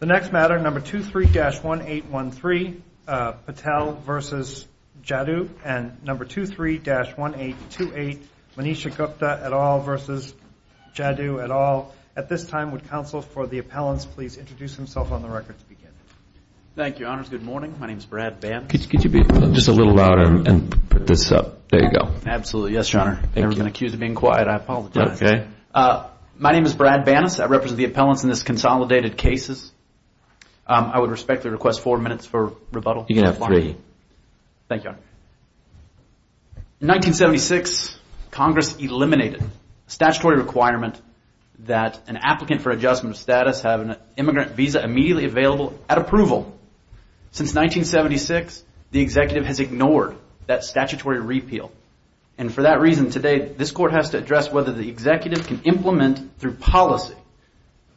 The next matter, number 23-1813, Patel v. Jaddou and number 23-1828, Manisha Gupta et al. v. Jaddou et al. At this time, would counsel for the appellants please introduce themselves on the record to begin? Thank you, Your Honors. Good morning. My name is Brad Bannas. Could you be just a little louder and put this up? There you go. Absolutely. Yes, Your Honor. I've never been accused of being quiet. I apologize. My name is Brad Bannas. I represent the appellants in this consolidated cases. I would respectfully request four minutes for rebuttal. You can have three. Thank you, Your Honor. In 1976, Congress eliminated statutory requirement that an applicant for adjustment of status have an immigrant visa immediately available at approval. Since 1976, the executive has ignored that statutory repeal. And for that reason, today, this court has to address whether the executive can implement through policy,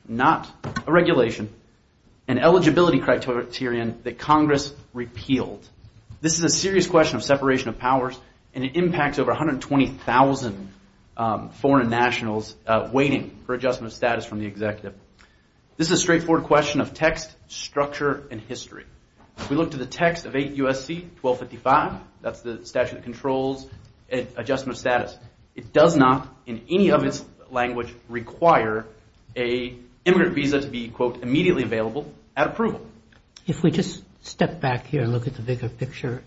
not a regulation, an eligibility criterion that Congress repealed. This is a serious question of separation of powers, and it impacts over 120,000 foreign nationals waiting for adjustment of status from the executive. This is a straightforward question of text, structure, and history. If we look to the text of 8 U.S.C. 1255, that's the statute of controls, adjustment of status, it does not, in any of its language, require a immigrant visa to be, quote, immediately available at approval. If we just step back here and look at the bigger picture,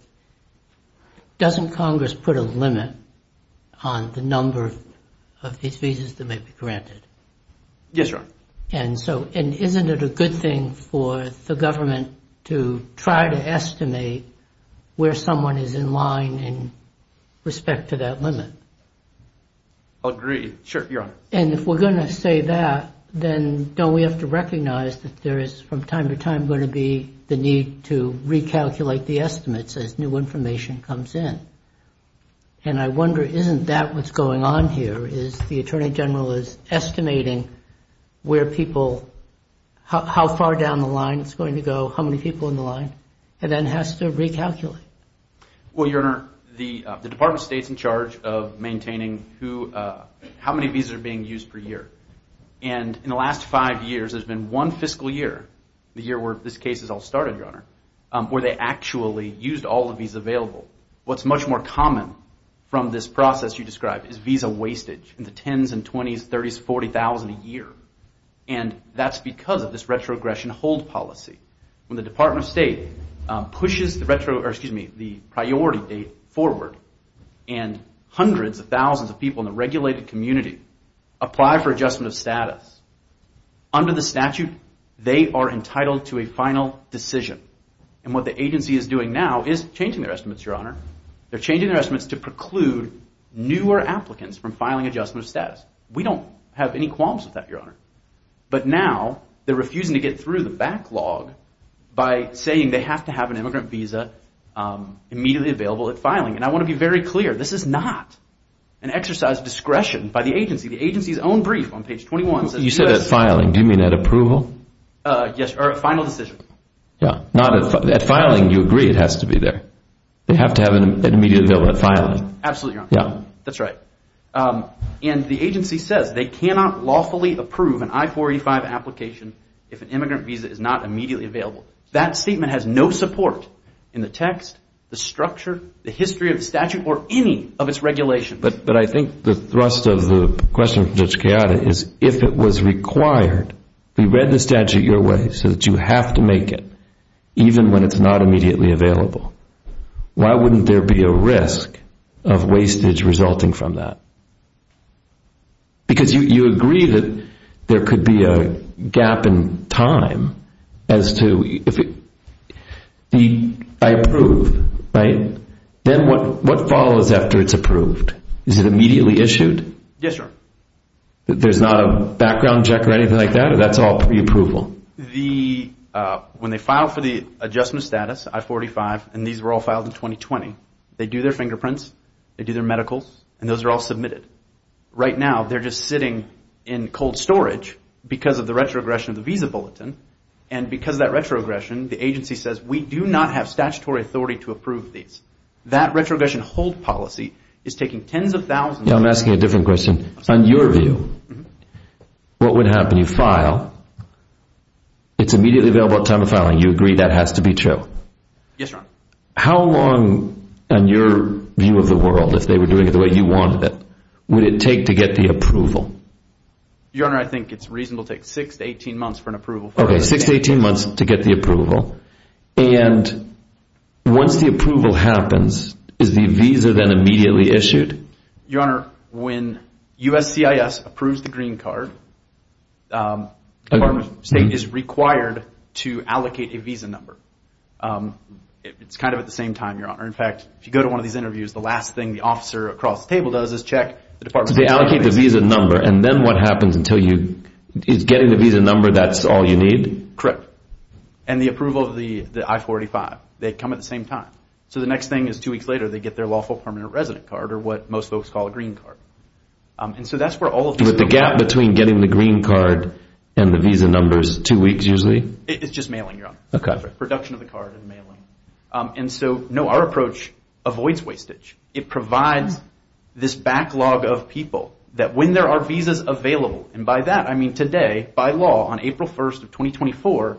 doesn't Congress put a limit on the number of these visas that may be granted? Yes, Your Honor. And isn't it a good thing for the government to try to estimate where someone is in line in respect to that limit? I agree. Sure, Your Honor. And if we're going to say that, then don't we have to recognize that there is, from time to time, going to be the need to recalculate the estimates as new information comes in? And I wonder, isn't that what's going on here, is the Attorney General is estimating where people, how far down the line it's going to go, how many people in the line, and then has to recalculate? Well, Your Honor, the Department of State's in charge of maintaining how many visas are being used per year. And in the last five years, there's been one fiscal year, the year where this case is all started, Your Honor, where they actually used all the visas available. What's much more common from this process you described is visa wastage in the 10s and 20s, 30s, 40,000 a year. And that's because of this retrogression hold policy. When the Department of State pushes the priority date forward, and hundreds of thousands of people in the regulated community apply for adjustment of status, under the statute, they are entitled to a final decision. And what the agency is doing now is changing their estimates, Your Honor. They're changing their estimates to preclude newer applicants from filing adjustment of status. We don't have any qualms with that, Your Honor. But now they're refusing to get through the backlog by saying they have to have an immigrant visa immediately available at filing. And I want to be very clear, this is not an exercise of discretion by the agency. The agency's own brief on page 21 says that you have to have an immediate availability at filing. You said at filing. Do you mean at approval? Yes, or at final decision. Yeah. At filing, you agree it has to be there. They have to have an immediate availability at filing. Absolutely, Your Honor. Yeah. That's right. And the agency says they cannot lawfully approve an I-485 application if an immigrant visa is not immediately available. That statement has no support in the text, the structure, the history of the statute, or any of its regulations. But I think the thrust of the question from Judge Chiara is if it was required, we read the statute your way so that you have to make it even when it's not immediately available. Why wouldn't there be a risk of wastage resulting from that? Because you agree that there could be a gap in time as to if I approve, right? Then what follows after it's approved? Is it immediately issued? Yes, Your Honor. There's not a background check or anything like that, or that's all preapproval? When they file for the adjustment status, I-485, and these were all filed in 2020, they do their fingerprints, they do their medicals, and those are all submitted. Right now, they're just sitting in cold storage because of the retrogression of the visa bulletin. And because of that retrogression, the agency says, we do not have statutory authority to approve these. That retrogression hold policy is taking tens of thousands- I'm asking a different question. On your view, what would happen? You file, it's immediately available at the time of filing. You agree that has to be true? Yes, Your Honor. How long, on your view of the world, if they were doing it the way you wanted it, would it take to get the approval? Your Honor, I think it's reasonable to take 6 to 18 months for an approval. Okay, 6 to 18 months to get the approval. And once the approval happens, is the visa then immediately issued? Your Honor, when USCIS approves the green card, the Department of State is required to allocate a visa number. It's kind of at the same time, Your Honor. In fact, if you go to one of these interviews, the last thing the officer across the table does is check- They allocate the visa number, and then what happens until you- is getting the visa number that's all you need? Correct. And the approval of the I-45, they come at the same time. So the next thing is two weeks later, they get their lawful permanent resident card, or what most folks call a green card. And so that's where all of the- With the gap between getting the green card and the visa number is two weeks, usually? It's just mailing, Your Honor. Okay. Production of the card and mailing. And so, no, our approach avoids wastage. It provides this backlog of people that when there are visas available, and by that I mean today, by law, on April 1st of 2024,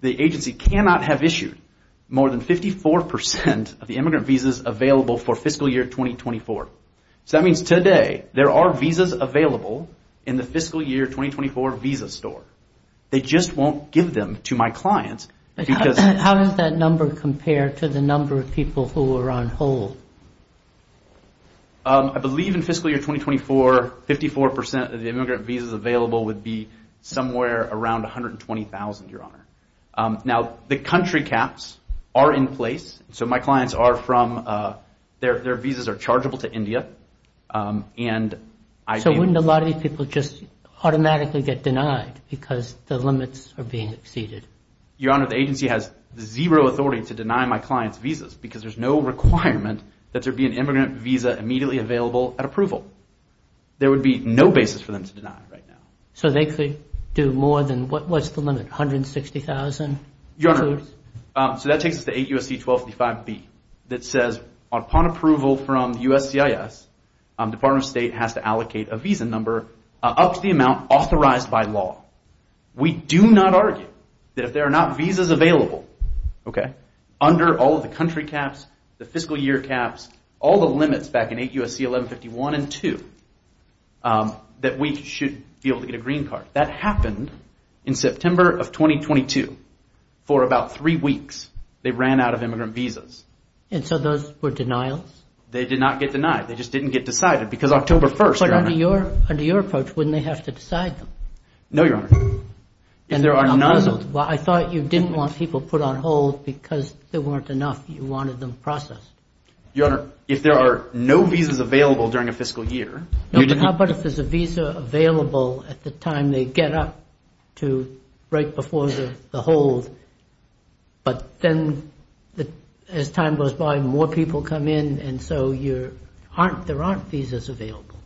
the agency cannot have issued more than 54% of the immigrant visas available for fiscal year 2024. So that means today there are visas available in the fiscal year 2024 visa store. They just won't give them to my clients because- I believe in fiscal year 2024, 54% of the immigrant visas available would be somewhere around $120,000, Your Honor. Now, the country caps are in place, so my clients are from- their visas are chargeable to India, and I- So wouldn't a lot of these people just automatically get denied because the limits are being exceeded? Your Honor, the agency has zero authority to deny my clients visas because there's no requirement that there be an immigrant visa immediately available at approval. There would be no basis for them to deny right now. So they could do more than- what's the limit, $160,000? Your Honor, so that takes us to 8 U.S.C. 1255B that says, upon approval from the U.S.C.I.S., Department of State has to allocate a visa number up to the amount authorized by law. We do not argue that if there are not visas available, okay, under all of the country caps, the fiscal year caps, all the limits back in 8 U.S.C. 1151 and 2, that we should be able to get a green card. That happened in September of 2022. For about three weeks, they ran out of immigrant visas. And so those were denials? They did not get denied. They just didn't get decided because October 1st- But under your approach, wouldn't they have to decide them? No, Your Honor. Well, I thought you didn't want people put on hold because there weren't enough. You wanted them processed. Your Honor, if there are no visas available during a fiscal year- No, but how about if there's a visa available at the time they get up to right before the hold, but then as time goes by, more people come in, and so there aren't visas available.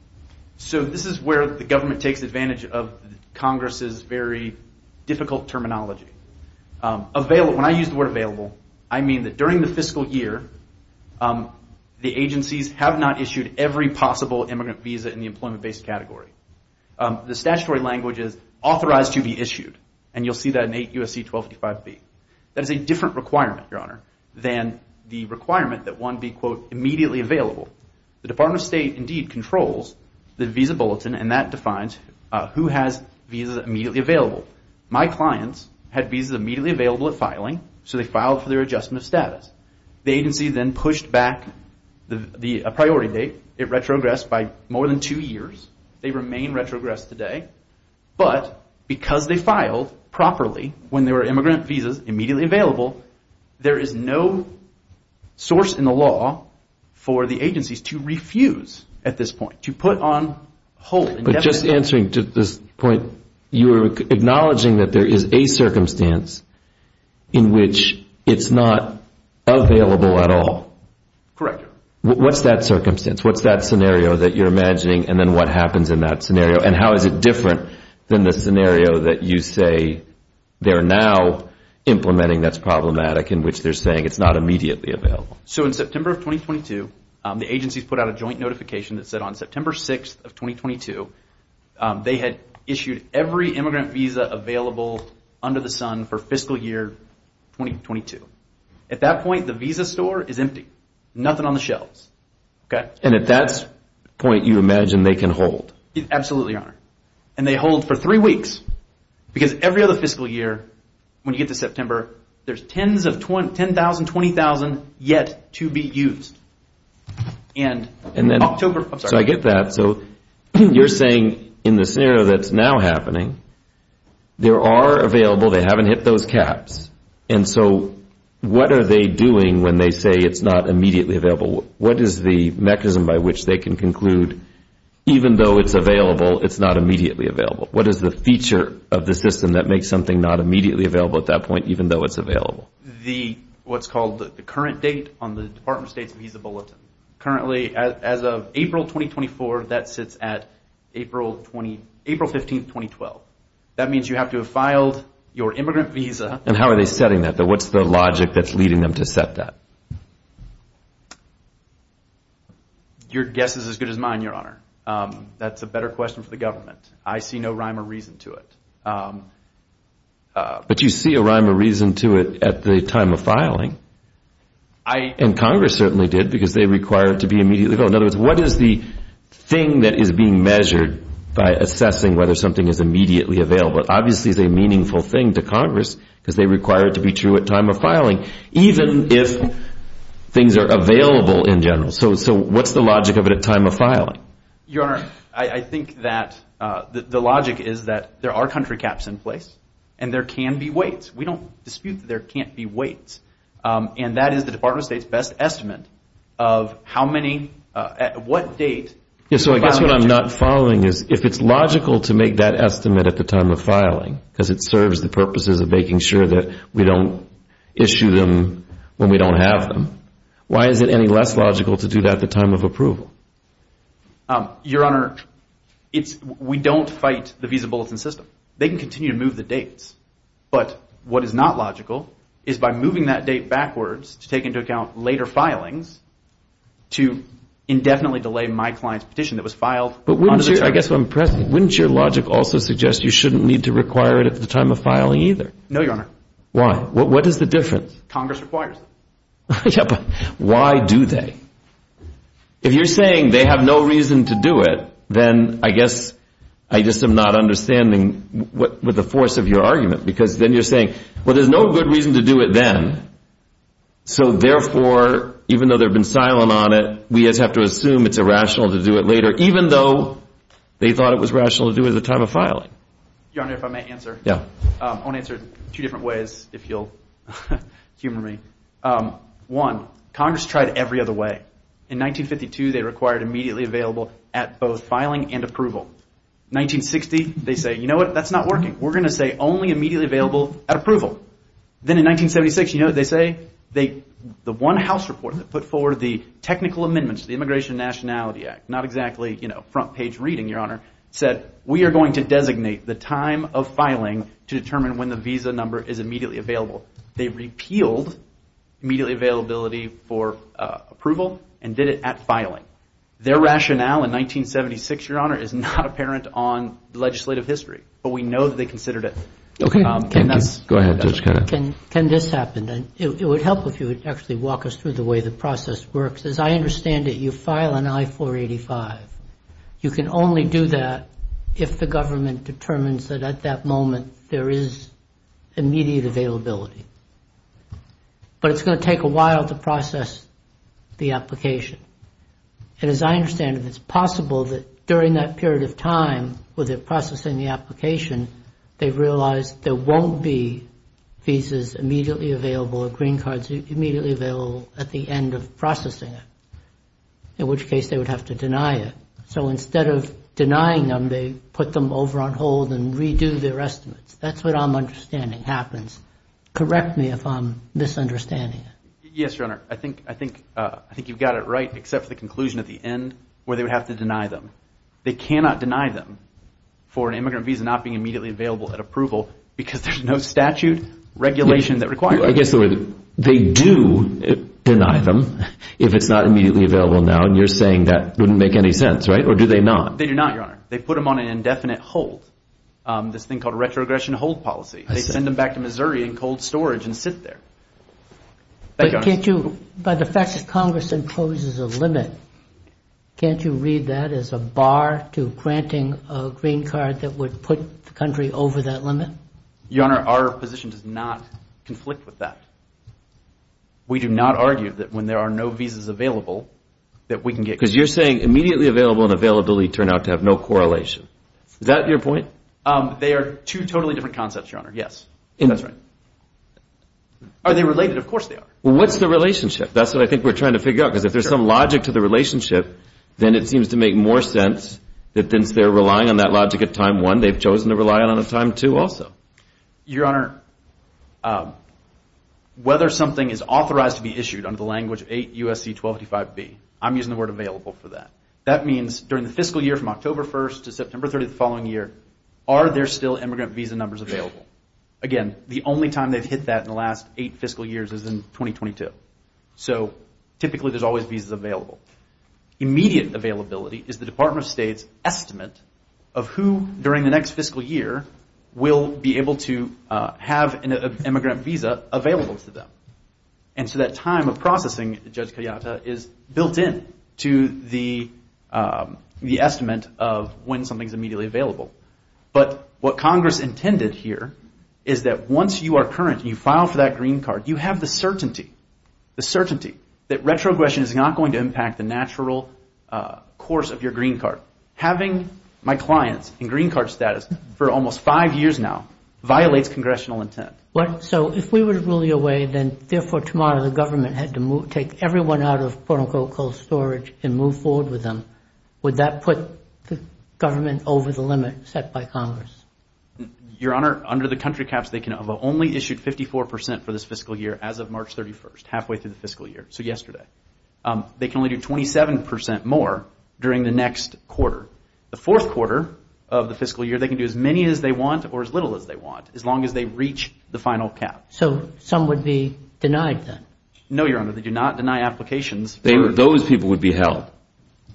So this is where the government takes advantage of Congress's very difficult terminology. When I use the word available, I mean that during the fiscal year, the agencies have not issued every possible immigrant visa in the employment-based category. The statutory language is authorized to be issued, and you'll see that in 8 U.S.C. 1255B. That is a different requirement, Your Honor, than the requirement that one be, quote, immediately available. The Department of State indeed controls the visa bulletin, and that defines who has visas immediately available. My clients had visas immediately available at filing, so they filed for their adjustment of status. The agency then pushed back the priority date. It retrogressed by more than two years. They remain retrogressed today, but because they filed properly when there were immigrant visas immediately available, there is no source in the law for the agencies to refuse at this point, to put on hold. But just answering to this point, you're acknowledging that there is a circumstance in which it's not available at all. Correct. What's that circumstance? What's that scenario that you're imagining, and then what happens in that scenario, and how is it different than the scenario that you say they're now implementing that's problematic, in which they're saying it's not immediately available? So in September of 2022, the agencies put out a joint notification that said on September 6th of 2022, they had issued every immigrant visa available under the sun for fiscal year 2022. At that point, the visa store is empty. Nothing on the shelves. And at that point, you imagine they can hold? Absolutely, Your Honor. And they hold for three weeks. Because every other fiscal year, when you get to September, there's 10,000, 20,000 yet to be used. And in October... So I get that. So you're saying in the scenario that's now happening, there are available, they haven't hit those caps. And so what are they doing when they say it's not immediately available? What is the mechanism by which they can conclude, even though it's available, it's not immediately available? What is the feature of the system that makes something not immediately available at that point even though it's available? What's called the current date on the Department of State's visa bulletin. Currently, as of April 2024, that sits at April 15, 2012. That means you have to have filed your immigrant visa. And how are they setting that? What's the logic that's leading them to set that? Your guess is as good as mine, Your Honor. That's a better question for the government. I see no rhyme or reason to it. But you see a rhyme or reason to it at the time of filing. And Congress certainly did, because they require it to be immediately available. In other words, what is the thing that is being measured by assessing whether something is immediately available? Obviously, it's a meaningful thing to Congress because they require it to be true at time of filing. Even if things are available in general. So what's the logic of it at time of filing? Your Honor, I think that the logic is that there are country caps in place and there can be waits. We don't dispute that there can't be waits. And that is the Department of State's best estimate of how many, at what date. So I guess what I'm not following is if it's logical to make that estimate at the time of filing because it serves the purposes of making sure that we don't issue them when we don't have them, why is it any less logical to do that at the time of approval? Your Honor, we don't fight the visa bulletin system. They can continue to move the dates. But what is not logical is by moving that date backwards to take into account later filings to indefinitely delay my client's petition that was filed on the term. But wouldn't your logic also suggest you shouldn't need to require it at the time of filing either? No, Your Honor. Why? What is the difference? Congress requires it. Yeah, but why do they? If you're saying they have no reason to do it, then I guess I just am not understanding with the force of your argument because then you're saying, well, there's no good reason to do it then. So therefore, even though they've been silent on it, we just have to assume it's irrational to do it later even though they thought it was rational to do it at the time of filing. Your Honor, if I may answer. Yeah. I want to answer it two different ways if you'll humor me. One, Congress tried every other way. In 1952, they required immediately available at both filing and approval. 1960, they say, you know what? That's not working. We're going to say only immediately available at approval. Then in 1976, you know what they say? The one House report that put forward the technical amendments to the Immigration and Nationality Act, not exactly front-page reading, Your Honor, said we are going to designate the time of filing to determine when the visa number is immediately available. They repealed immediately availability for approval and did it at filing. Their rationale in 1976, Your Honor, is not apparent on legislative history, but we know that they considered it. Go ahead, Judge Kennedy. Can this happen? It would help if you would actually walk us through the way the process works. As I understand it, you file an I-485. You can only do that if the government determines that at that moment there is immediate availability. But it's going to take a while to process the application. And as I understand it, it's possible that during that period of time where they're processing the application, they realize there won't be visas immediately available or green cards immediately available at the end of processing it, in which case they would have to deny it. So instead of denying them, they put them over on hold and redo their estimates. That's what I'm understanding happens. Correct me if I'm misunderstanding it. Yes, Your Honor. I think you've got it right except for the conclusion at the end where they would have to deny them. They cannot deny them for an immigrant visa not being immediately available at approval because there's no statute, regulation that requires it. I guess the way they do deny them, if it's not immediately available now, and you're saying that wouldn't make any sense, right? Or do they not? They do not, Your Honor. They put them on an indefinite hold, this thing called a retrogression hold policy. They send them back to Missouri in cold storage and sit there. Thank you, Your Honor. But can't you, by the fact that Congress imposes a limit, can't you read that as a bar to granting a green card that would put the country over that limit? Your Honor, our position does not conflict with that. We do not argue that when there are no visas available that we can get... Because you're saying immediately available and availability turn out to have no correlation. Is that your point? They are two totally different concepts, Your Honor. Yes. That's right. Are they related? Of course they are. Well, what's the relationship? That's what I think we're trying to figure out because if there's some logic to the relationship, then it seems to make more sense that since they're relying on that logic at time one, they've chosen to rely on it at time two also. Your Honor, whether something is authorized to be issued under the language 8 U.S.C. 1285B, I'm using the word available for that. That means during the fiscal year from October 1st to September 30th of the following year, are there still immigrant visa numbers available? Again, the only time they've hit that in the last eight fiscal years is in 2022. So typically there's always visas available. Immediate availability is the Department of State's estimate of who, during the next fiscal year, will be able to have an immigrant visa available to them. And so that time of processing, Judge Kayata, is built in to the estimate of when something is immediately available. But what Congress intended here is that once you are current and you file for that green card, you have the certainty, the certainty that retrogression is not going to impact the natural course of your green card. So having my clients in green card status for almost five years now violates congressional intent. So if we were ruling away, then therefore tomorrow the government had to take everyone out of quote-unquote cold storage and move forward with them, would that put the government over the limit set by Congress? Your Honor, under the country caps, they can only issue 54% for this fiscal year as of March 31st, halfway through the fiscal year, so yesterday. They can only do 27% more during the next quarter. The fourth quarter of the fiscal year, they can do as many as they want or as little as they want, as long as they reach the final cap. So some would be denied then? No, Your Honor, they do not deny applications. Those people would be held?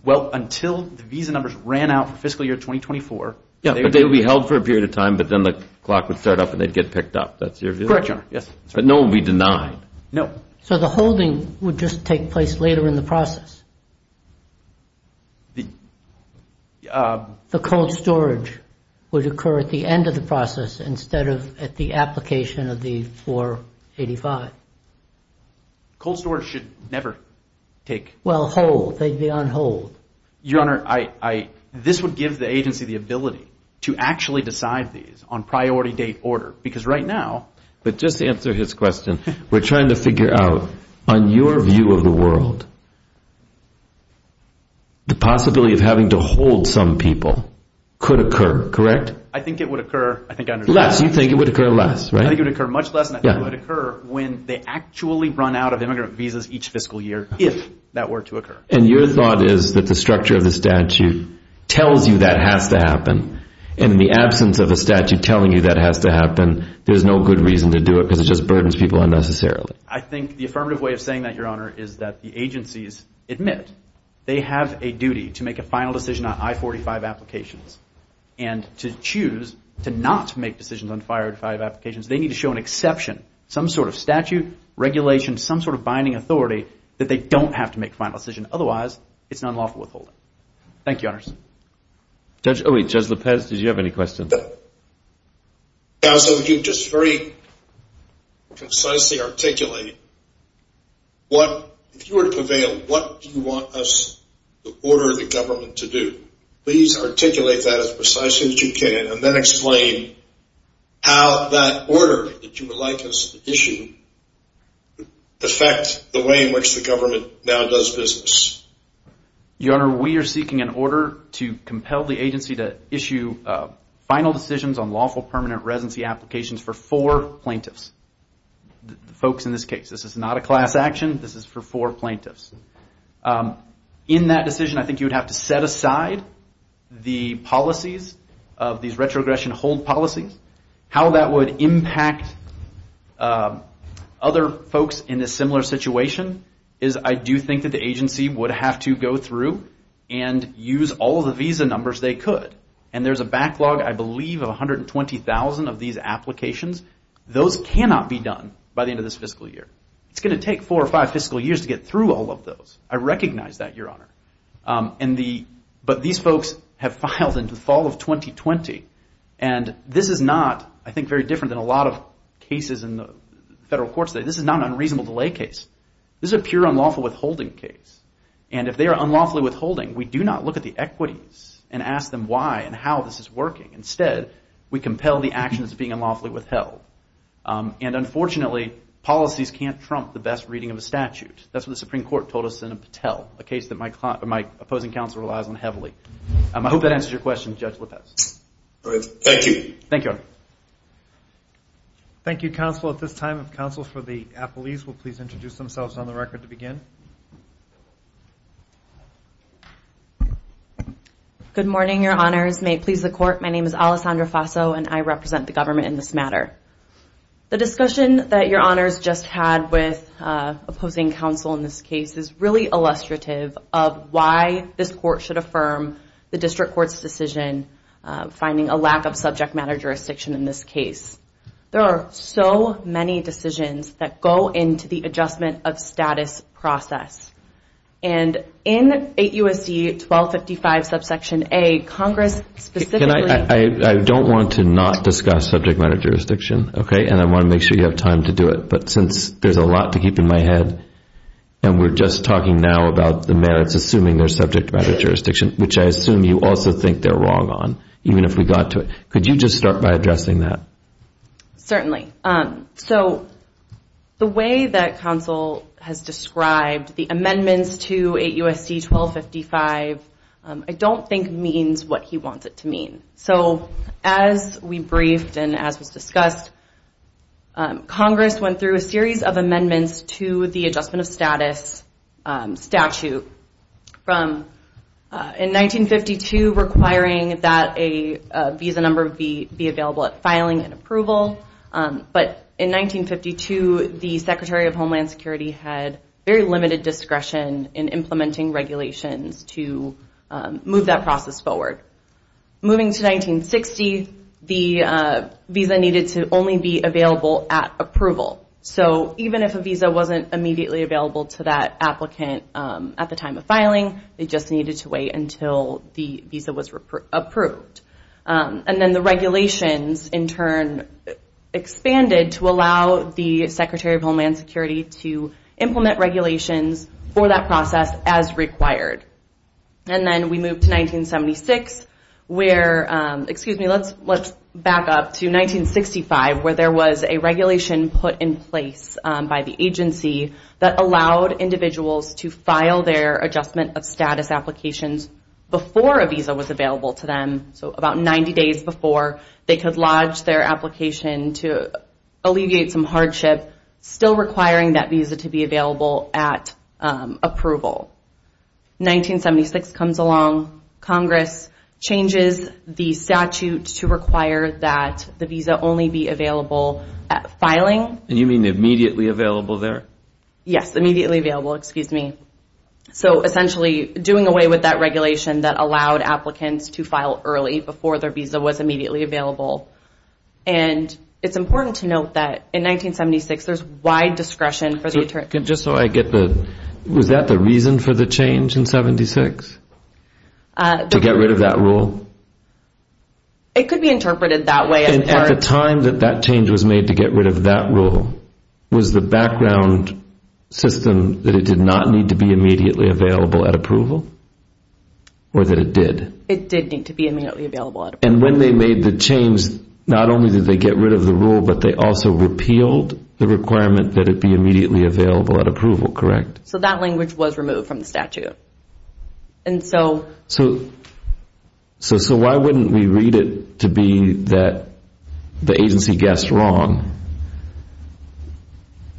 Well, until the visa numbers ran out for fiscal year 2024. Yeah, but they would be held for a period of time but then the clock would start up and they'd get picked up. That's your view? Correct, Your Honor, yes. But no one would be denied? No. So the holding would just take place later in the process? The... The cold storage would occur at the end of the process instead of at the application of the 485. Cold storage should never take... Well, hold, they'd be on hold. Your Honor, this would give the agency the ability to actually decide these on priority date order because right now... But just to answer his question, we're trying to figure out, on your view of the world, the possibility of having to hold some people could occur, correct? I think it would occur... Less, you think it would occur less, right? I think it would occur much less and I think it would occur when they actually run out of immigrant visas each fiscal year if that were to occur. And your thought is that the structure of the statute tells you that has to happen and in the absence of a statute telling you that has to happen, there's no good reason to do it because it just burdens people unnecessarily. I think the affirmative way of saying that, Your Honor, is that the agencies admit they have a duty to make a final decision on I-45 applications and to choose to not make decisions on 505 applications. They need to show an exception, some sort of statute, regulation, some sort of binding authority that they don't have to make a final decision. Otherwise, it's an unlawful withholding. Thank you, Your Honor. Judge... Oh, wait, Judge Lopez, did you have any questions? Counsel, if you could just very concisely articulate what, if you were to prevail, what do you want us to order the government to do? Please articulate that as precisely as you can and then explain how that order that you would like us to issue affects the way in which the government now does business. Your Honor, we are seeking an order to compel the agency to issue final decisions on lawful permanent residency applications for four plaintiffs, folks in this case. This is not a class action. This is for four plaintiffs. In that decision, I think you would have to set aside the policies of these retrogression hold policies. How that would impact other folks in a similar situation is I do think that the agency would have to go through and use all the visa numbers they could. And there's a backlog, I believe, of 120,000 of these applications. Those cannot be done by the end of this fiscal year. It's going to take four or five fiscal years to get through all of those. I recognize that, Your Honor. But these folks have filed in the fall of 2020. And this is not, I think, very different than a lot of cases in the federal courts today. This is not an unreasonable delay case. This is a pure unlawful withholding case. And if they are unlawfully withholding, we do not look at the equities and ask them why and how this is working. Instead, we compel the actions of being unlawfully withheld. And unfortunately, policies can't trump the best reading of a statute. That's what the Supreme Court told us in Patel, a case that my opposing counsel relies on heavily. I hope that answers your question, Judge Lopez. Thank you. Thank you, Your Honor. Thank you, counsel. At this time, if counsel for the appellees will please introduce themselves on the record to begin. Good morning, Your Honors. May it please the court, my name is Alessandra Faso, and I represent the government in this matter. The discussion that Your Honors just had with opposing counsel in this case is really illustrative of why this court should affirm the district court's decision finding a lack of subject matter jurisdiction in this case. There are so many decisions that go into the adjustment of status process. And in 8 U.S.C. 1255 subsection A, Congress specifically I don't want to not discuss subject matter jurisdiction, okay? And I want to make sure you have time to do it. But since there's a lot to keep in my head, and we're just talking now about the merits assuming there's subject matter jurisdiction, which I assume you also think they're wrong on, even if we got to it. Could you just start by addressing that? Certainly. So the way that counsel has described the amendments to 8 U.S.C. 1255 I don't think means what he wants it to mean. So as we briefed and as was discussed, Congress went through a series of amendments to the adjustment of status statute. In 1952, requiring that a visa number be available at filing and approval. But in 1952, the Secretary of Homeland Security had very limited discretion in implementing regulations to move that process forward. Moving to 1960, the visa needed to only be available at approval. So even if a visa wasn't immediately available to that applicant at the time of filing, they just needed to wait until the visa was approved. And then the regulations, in turn, expanded to allow the Secretary of Homeland Security to implement regulations for that process as required. And then we moved to 1976, where, excuse me, let's back up to 1965, where there was a regulation put in place by the agency that allowed individuals to file their adjustment of status applications before a visa was available to them. So about 90 days before they could lodge their application to alleviate some hardship, still requiring that visa to be available at approval. 1976 comes along. Congress changes the statute to require that the visa only be available at filing. And you mean immediately available there? Yes, immediately available, excuse me. So essentially doing away with that regulation that allowed applicants to file early before their visa was immediately available. And it's important to note that in 1976, there's wide discretion for the attorney. Just so I get the, was that the reason for the change in 76? To get rid of that rule? It could be interpreted that way. At the time that that change was made to get rid of that rule, was the background system that it did not need to be immediately available at approval? Or that it did? It did need to be immediately available at approval. And when they made the change, not only did they get rid of the rule, but they also repealed the requirement that it be immediately available at approval, correct? So that language was removed from the statute. And so? So why wouldn't we read it to be that the agency guessed wrong?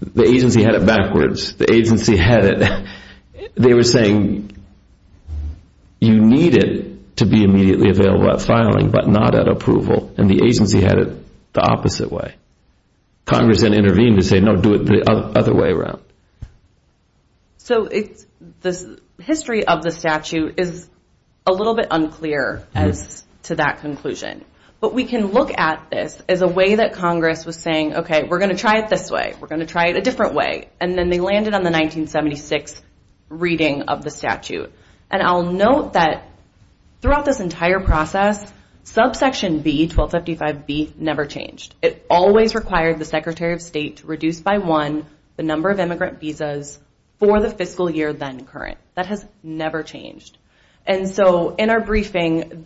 The agency had it backwards. The agency had it. They were saying you need it to be immediately available at filing, but not at approval. And the agency had it the opposite way. Congress then intervened and said, no, do it the other way around. So the history of the statute is a little bit unclear as to that conclusion. But we can look at this as a way that Congress was saying, okay, we're going to try it this way. We're going to try it a different way. And then they landed on the 1976 reading of the statute. And I'll note that throughout this entire process, subsection B, 1255B, never changed. It always required the Secretary of State to reduce by one the number of immigrant visas for the fiscal year then current. That has never changed. And so in our briefing,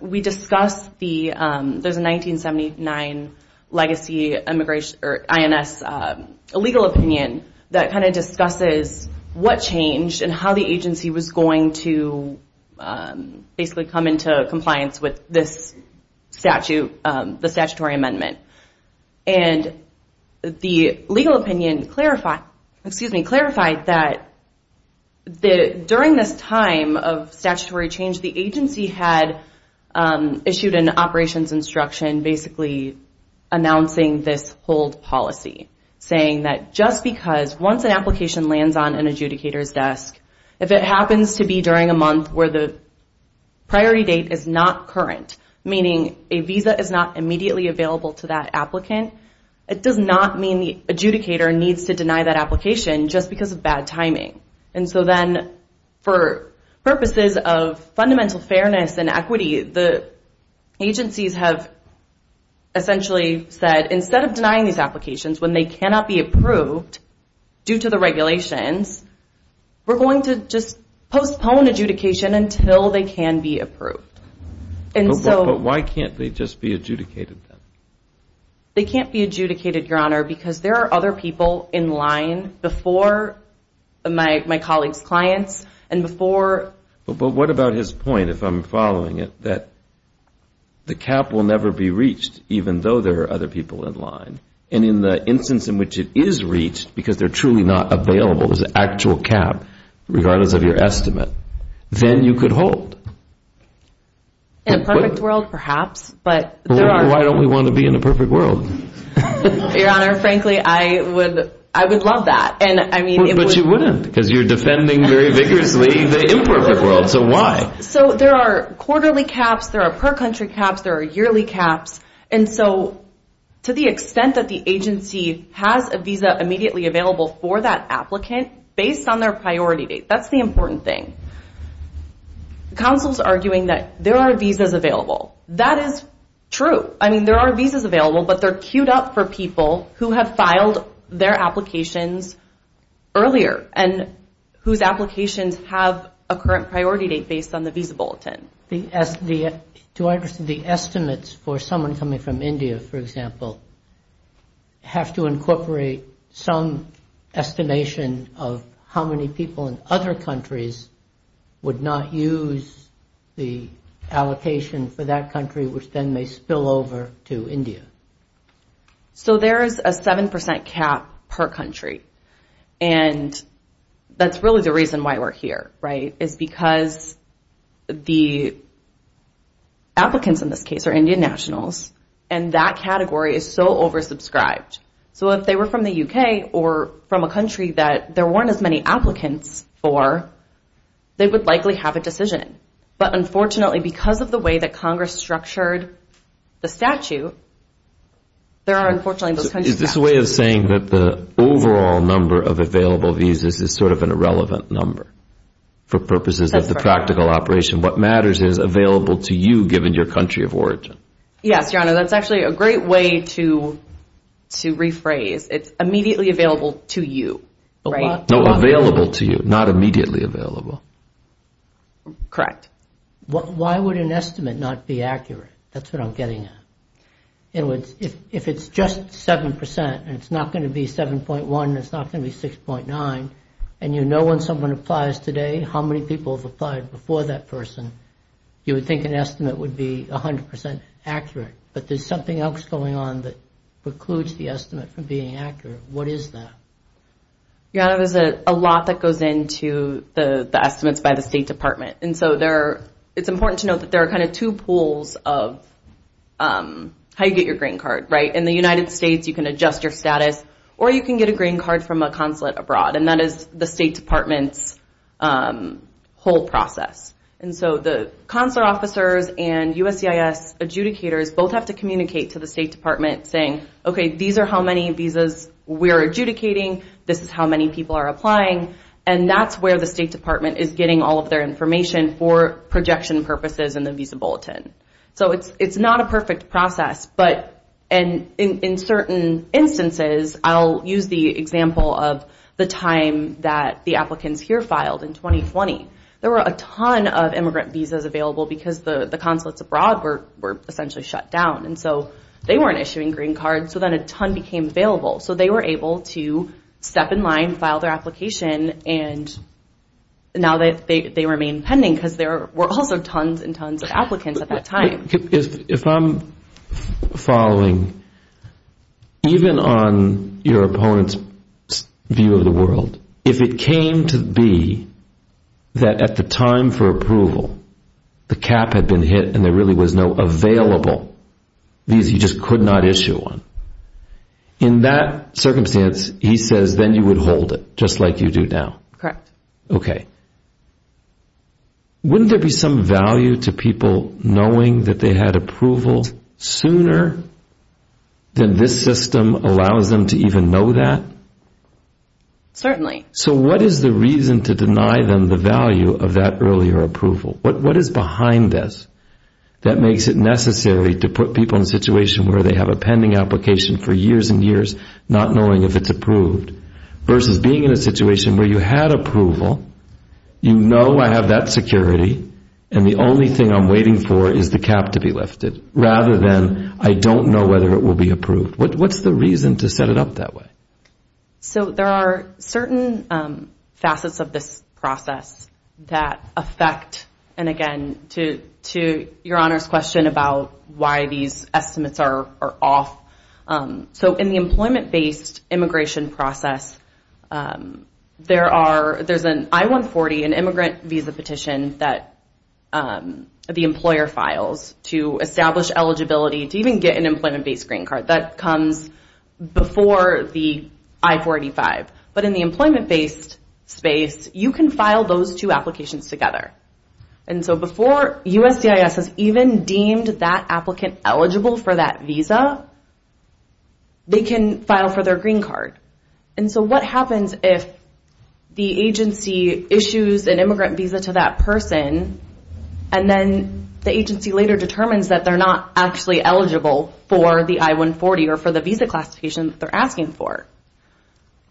we discuss the 1979 legacy INS legal opinion that kind of discusses what changed and how the agency was going to basically come into compliance with this statute, the statutory amendment. And the legal opinion clarified that during this time of statutory change, the agency had issued an operations instruction basically announcing this hold policy, saying that just because once an application lands on an adjudicator's desk, if it happens to be during a month where the priority date is not current, meaning a visa is not immediately available to that applicant, it does not mean the adjudicator needs to deny that application just because of bad timing. And so then for purposes of fundamental fairness and equity, the agencies have essentially said instead of denying these applications when they cannot be approved due to the regulations, we're going to just postpone adjudication until they can be approved. But why can't they just be adjudicated then? They can't be adjudicated, Your Honor, because there are other people in line before my colleagues' clients and before. But what about his point, if I'm following it, that the cap will never be reached, even though there are other people in line. And in the instance in which it is reached, because they're truly not available as an actual cap, regardless of your estimate, then you could hold. In a perfect world, perhaps, but there are. Why don't we want to be in a perfect world? Your Honor, frankly, I would love that. But you wouldn't because you're defending very vigorously the imperfect world. So why? So there are quarterly caps, there are per-country caps, there are yearly caps. And so to the extent that the agency has a visa immediately available for that applicant based on their priority date, that's the important thing. The counsel's arguing that there are visas available. That is true. I mean, there are visas available, but they're queued up for people who have filed their applications earlier and whose applications have a current priority date based on the visa bulletin. Do I understand the estimates for someone coming from India, for example, have to incorporate some estimation of how many people in other countries would not use the allocation for that country, which then may spill over to India? So there is a 7% cap per country. And that's really the reason why we're here, right, is because the applicants in this case are Indian nationals, and that category is so oversubscribed. So if they were from the U.K. or from a country that there weren't as many applicants for, they would likely have a decision. But unfortunately, because of the way that Congress structured the statute, there are, unfortunately, those kinds of statutes. Is this a way of saying that the overall number of available visas is sort of an irrelevant number for purposes of the practical operation? What matters is available to you given your country of origin. Yes, Your Honor. That's actually a great way to rephrase. It's immediately available to you, right? No, available to you, not immediately available. Correct. Why would an estimate not be accurate? That's what I'm getting at. If it's just 7% and it's not going to be 7.1 and it's not going to be 6.9, and you know when someone applies today how many people have applied before that person, you would think an estimate would be 100% accurate. But there's something else going on that precludes the estimate from being accurate. What is that? Your Honor, there's a lot that goes into the estimates by the State Department. And so it's important to note that there are kind of two pools of how you get your green card, right? In the United States, you can adjust your status, or you can get a green card from a consulate abroad, and that is the State Department's whole process. And so the consular officers and USCIS adjudicators both have to communicate to the State Department saying, okay, these are how many visas we're adjudicating, this is how many people are applying, and that's where the State Department is getting all of their information for projection purposes in the Visa Bulletin. So it's not a perfect process, but in certain instances, I'll use the example of the time that the applicants here filed in 2020. There were a ton of immigrant visas available because the consulates abroad were essentially shut down, and so they weren't issuing green cards, so then a ton became available. So they were able to step in line, file their application, and now they remain pending because there were also tons and tons of applicants at that time. If I'm following, even on your opponent's view of the world, if it came to be that at the time for approval, the cap had been hit and there really was no available visa, you just could not issue one. In that circumstance, he says, then you would hold it just like you do now. Correct. Okay. Wouldn't there be some value to people knowing that they had approval sooner than this system allows them to even know that? Certainly. So what is the reason to deny them the value of that earlier approval? What is behind this that makes it necessary to put people in a situation where they have a pending application for years and years, not knowing if it's approved, versus being in a situation where you had approval, you know I have that security, and the only thing I'm waiting for is the cap to be lifted, rather than I don't know whether it will be approved. What's the reason to set it up that way? So there are certain facets of this process that affect, and again, to your Honor's question about why these estimates are off. So in the employment-based immigration process, there's an I-140, an immigrant visa petition that the employer files to establish eligibility, to even get an employment-based green card. That comes before the I-485. But in the employment-based space, you can file those two applications together. And so before USCIS has even deemed that applicant eligible for that visa, they can file for their green card. And so what happens if the agency issues an immigrant visa to that person, and then the agency later determines that they're not actually eligible for the I-140, or for the visa classification that they're asking for?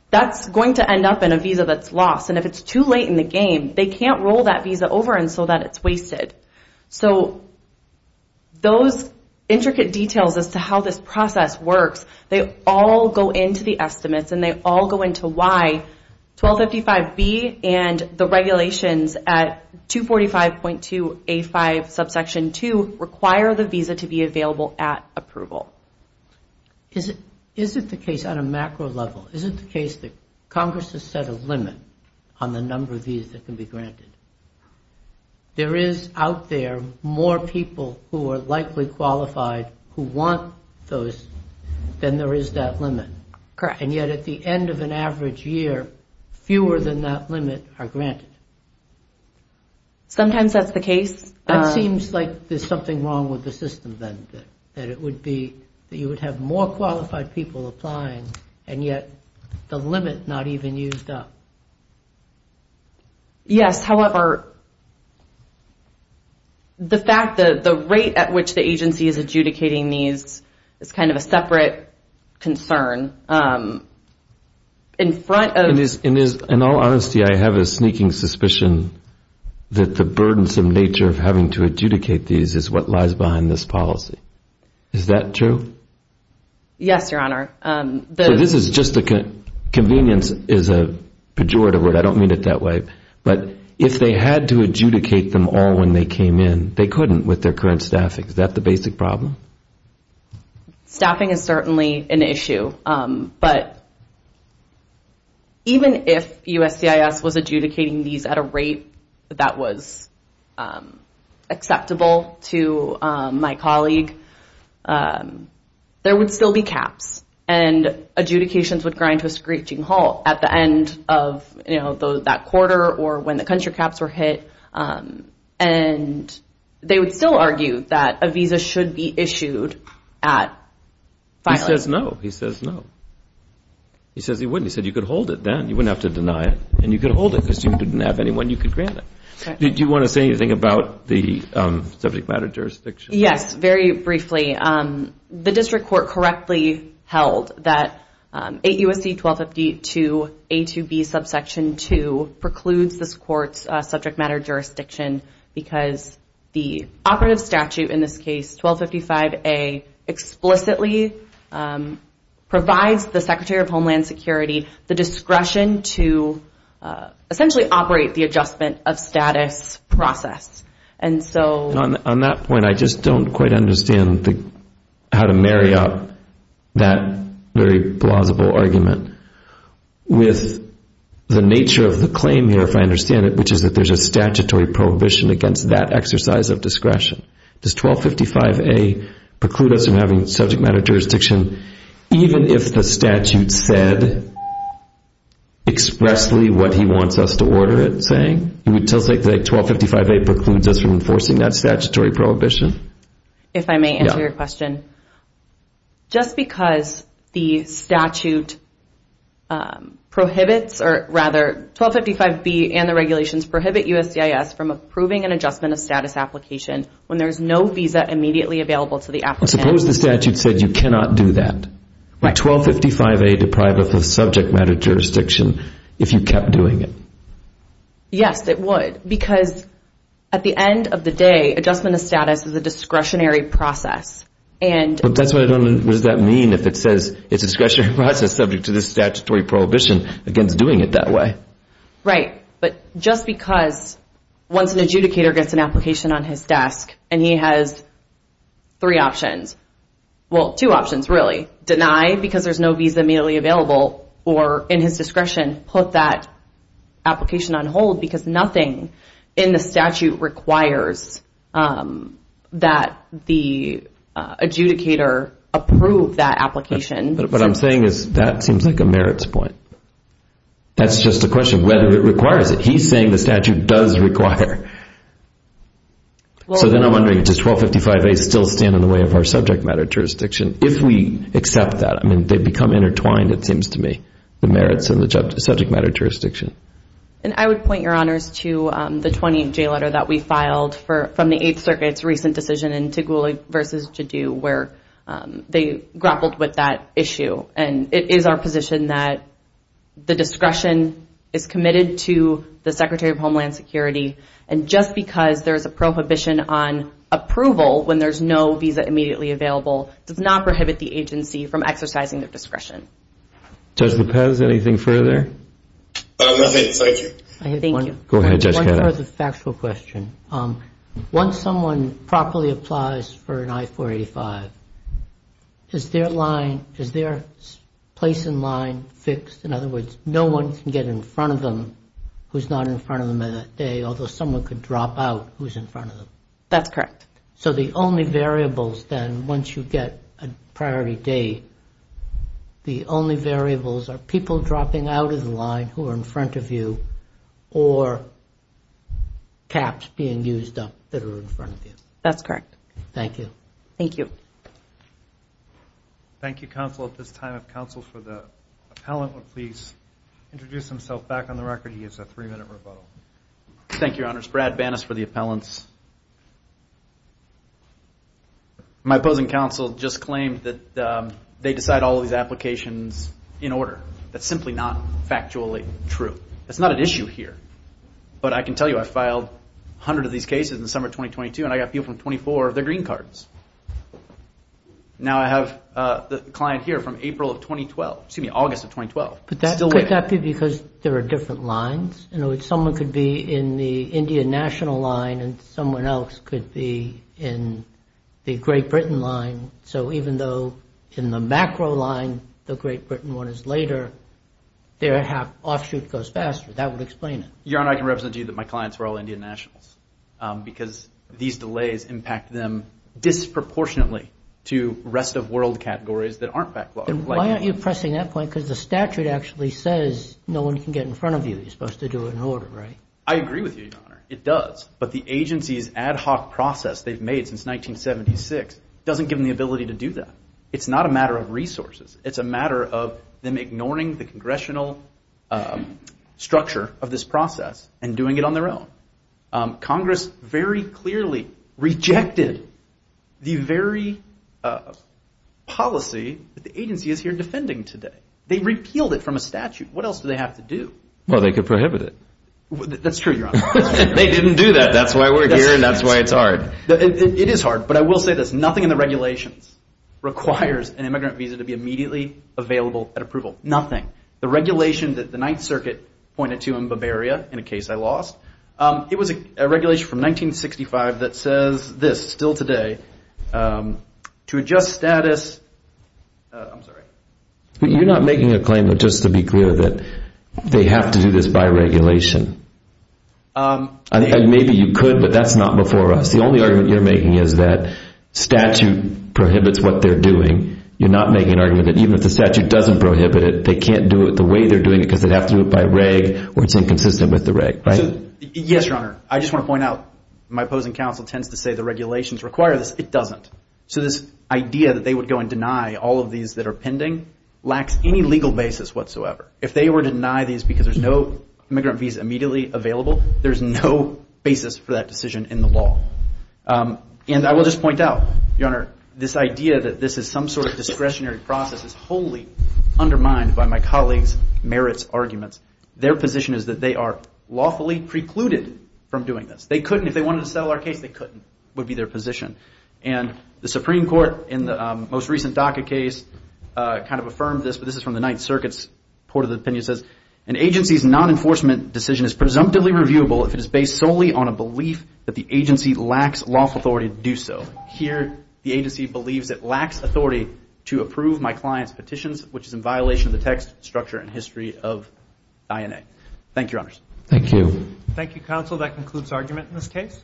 That's going to end up in a visa that's lost, and if it's too late in the game, they can't roll that visa over so that it's wasted. So those intricate details as to how this process works, they all go into the estimates, and they all go into why 1255B and the regulations at 245.2A5 subsection 2 require the visa to be available at approval. Is it the case on a macro level, is it the case that Congress has set a limit on the number of visas that can be granted? There is out there more people who are likely qualified who want those than there is that limit. Correct. And yet at the end of an average year, fewer than that limit are granted. Sometimes that's the case. It seems like there's something wrong with the system then, that it would be that you would have more qualified people applying, and yet the limit not even used up. Yes, however, the fact that the rate at which the agency is adjudicating these is kind of a separate concern. In all honesty, I have a sneaking suspicion that the burdensome nature of having to adjudicate these is what lies behind this policy. Is that true? Yes, Your Honor. Convenience is a pejorative word. I don't mean it that way. But if they had to adjudicate them all when they came in, they couldn't with their current staffing. Is that the basic problem? Staffing is certainly an issue. But even if USCIS was adjudicating these at a rate that was acceptable to my colleague, there would still be caps, and adjudications would grind to a screeching halt at the end of that quarter or when the country caps were hit. And they would still argue that a visa should be issued at filing. He says no. He says no. He says he wouldn't. He said you could hold it then. You wouldn't have to deny it, and you could hold it because you didn't have anyone you could grant it. Do you want to say anything about the subject matter jurisdiction? Yes, very briefly. The district court correctly held that 8 U.S.C. 1252 A2B subsection 2 precludes this court's subject matter jurisdiction because the operative statute in this case, 1255 A, explicitly provides the Secretary of Homeland Security the discretion to essentially operate the adjustment of status process. On that point, I just don't quite understand how to marry up that very plausible argument with the nature of the claim here, if I understand it, which is that there's a statutory prohibition against that exercise of discretion. Does 1255 A preclude us from having subject matter jurisdiction even if the statute said expressly what he wants us to order it saying? He would say that 1255 A precludes us from enforcing that statutory prohibition? If I may answer your question. Just because the statute prohibits, or rather, 1255 B and the regulations prohibit USCIS from approving an adjustment of status application when there's no visa immediately available to the applicant. Suppose the statute said you cannot do that. Would 1255 A deprive us of subject matter jurisdiction if you kept doing it? Yes, it would because at the end of the day, adjustment of status is a discretionary process. What does that mean if it says it's a discretionary process subject to the statutory prohibition against doing it that way? Right, but just because once an adjudicator gets an application on his desk and he has three options, well, two options really, deny because there's no visa immediately available or in his discretion, put that application on hold because nothing in the statute requires that the adjudicator approve that application. What I'm saying is that seems like a merits point. That's just a question of whether it requires it. He's saying the statute does require. So then I'm wondering, does 1255 A still stand in the way of our subject matter jurisdiction? If we accept that, I mean, they become intertwined, it seems to me, the merits of the subject matter jurisdiction. And I would point your honors to the 20-J letter that we filed from the Eighth Circuit's recent decision in Tigul versus Jadu where they grappled with that issue. And it is our position that the discretion is committed to the Secretary of Homeland Security, and just because there's a prohibition on approval when there's no visa immediately available does not prohibit the agency from exercising their discretion. Judge Lopez, anything further? Nothing. Thank you. I have one further factual question. Once someone properly applies for an I-485, is their place in line fixed? In other words, no one can get in front of them who's not in front of them that day, although someone could drop out who's in front of them. That's correct. So the only variables, then, once you get a priority date, the only variables are people dropping out of the line who are in front of you or caps being used up that are in front of you. That's correct. Thank you. Thank you. Thank you, counsel. At this time, if counsel for the appellant would please introduce himself back on the record. He has a three-minute rebuttal. Thank you, Your Honors. Brad Banas for the appellants. My opposing counsel just claimed that they decide all of these applications in order. That's simply not factually true. That's not an issue here. But I can tell you I filed 100 of these cases in the summer of 2022, and I got people from 24 of their green cards. Now I have the client here from April of 2012, excuse me, August of 2012. Could that be because there are different lines? In other words, someone could be in the Indian national line and someone else could be in the Great Britain line. So even though in the macro line the Great Britain one is later, their offshoot goes faster. That would explain it. Your Honor, I can represent to you that my clients were all Indian nationals because these delays impact them disproportionately to rest of world categories that aren't backlogged. Why aren't you pressing that point? Because the statute actually says no one can get in front of you. You're supposed to do it in order, right? I agree with you, Your Honor. It does. But the agency's ad hoc process they've made since 1976 doesn't give them the ability to do that. It's not a matter of resources. It's a matter of them ignoring the congressional structure of this process and doing it on their own. Congress very clearly rejected the very policy that the agency is here defending today. They repealed it from a statute. What else do they have to do? Well, they could prohibit it. That's true, Your Honor. They didn't do that. That's why we're here and that's why it's hard. It is hard. But I will say this. Nothing in the regulations requires an immigrant visa to be immediately available at approval. Nothing. The regulation that the Ninth Circuit pointed to in Bavaria in a case I lost, it was a regulation from 1965 that says this still today, to adjust status. I'm sorry. You're not making a claim just to be clear that they have to do this by regulation. Maybe you could, but that's not before us. The only argument you're making is that statute prohibits what they're doing. You're not making an argument that even if the statute doesn't prohibit it, they can't do it the way they're doing it because they'd have to do it by reg or it's inconsistent with the reg, right? Yes, Your Honor. I just want to point out my opposing counsel tends to say the regulations require this. It doesn't. So this idea that they would go and deny all of these that are pending lacks any legal basis whatsoever. If they were to deny these because there's no immigrant visa immediately available, there's no basis for that decision in the law. And I will just point out, Your Honor, this idea that this is some sort of discretionary process is wholly undermined by my colleagues' merits arguments. Their position is that they are lawfully precluded from doing this. They couldn't. If they wanted to settle our case, they couldn't would be their position. And the Supreme Court in the most recent DACA case kind of affirmed this, but this is from the Ninth Circuit's report of the opinion. It says, an agency's non-enforcement decision is presumptively reviewable if it is based solely on a belief that the agency lacks lawful authority to do so. Here, the agency believes it lacks authority to approve my client's petitions, which is in violation of the text, structure, and history of INA. Thank you, Your Honors. Thank you. Thank you, counsel. That concludes argument in this case.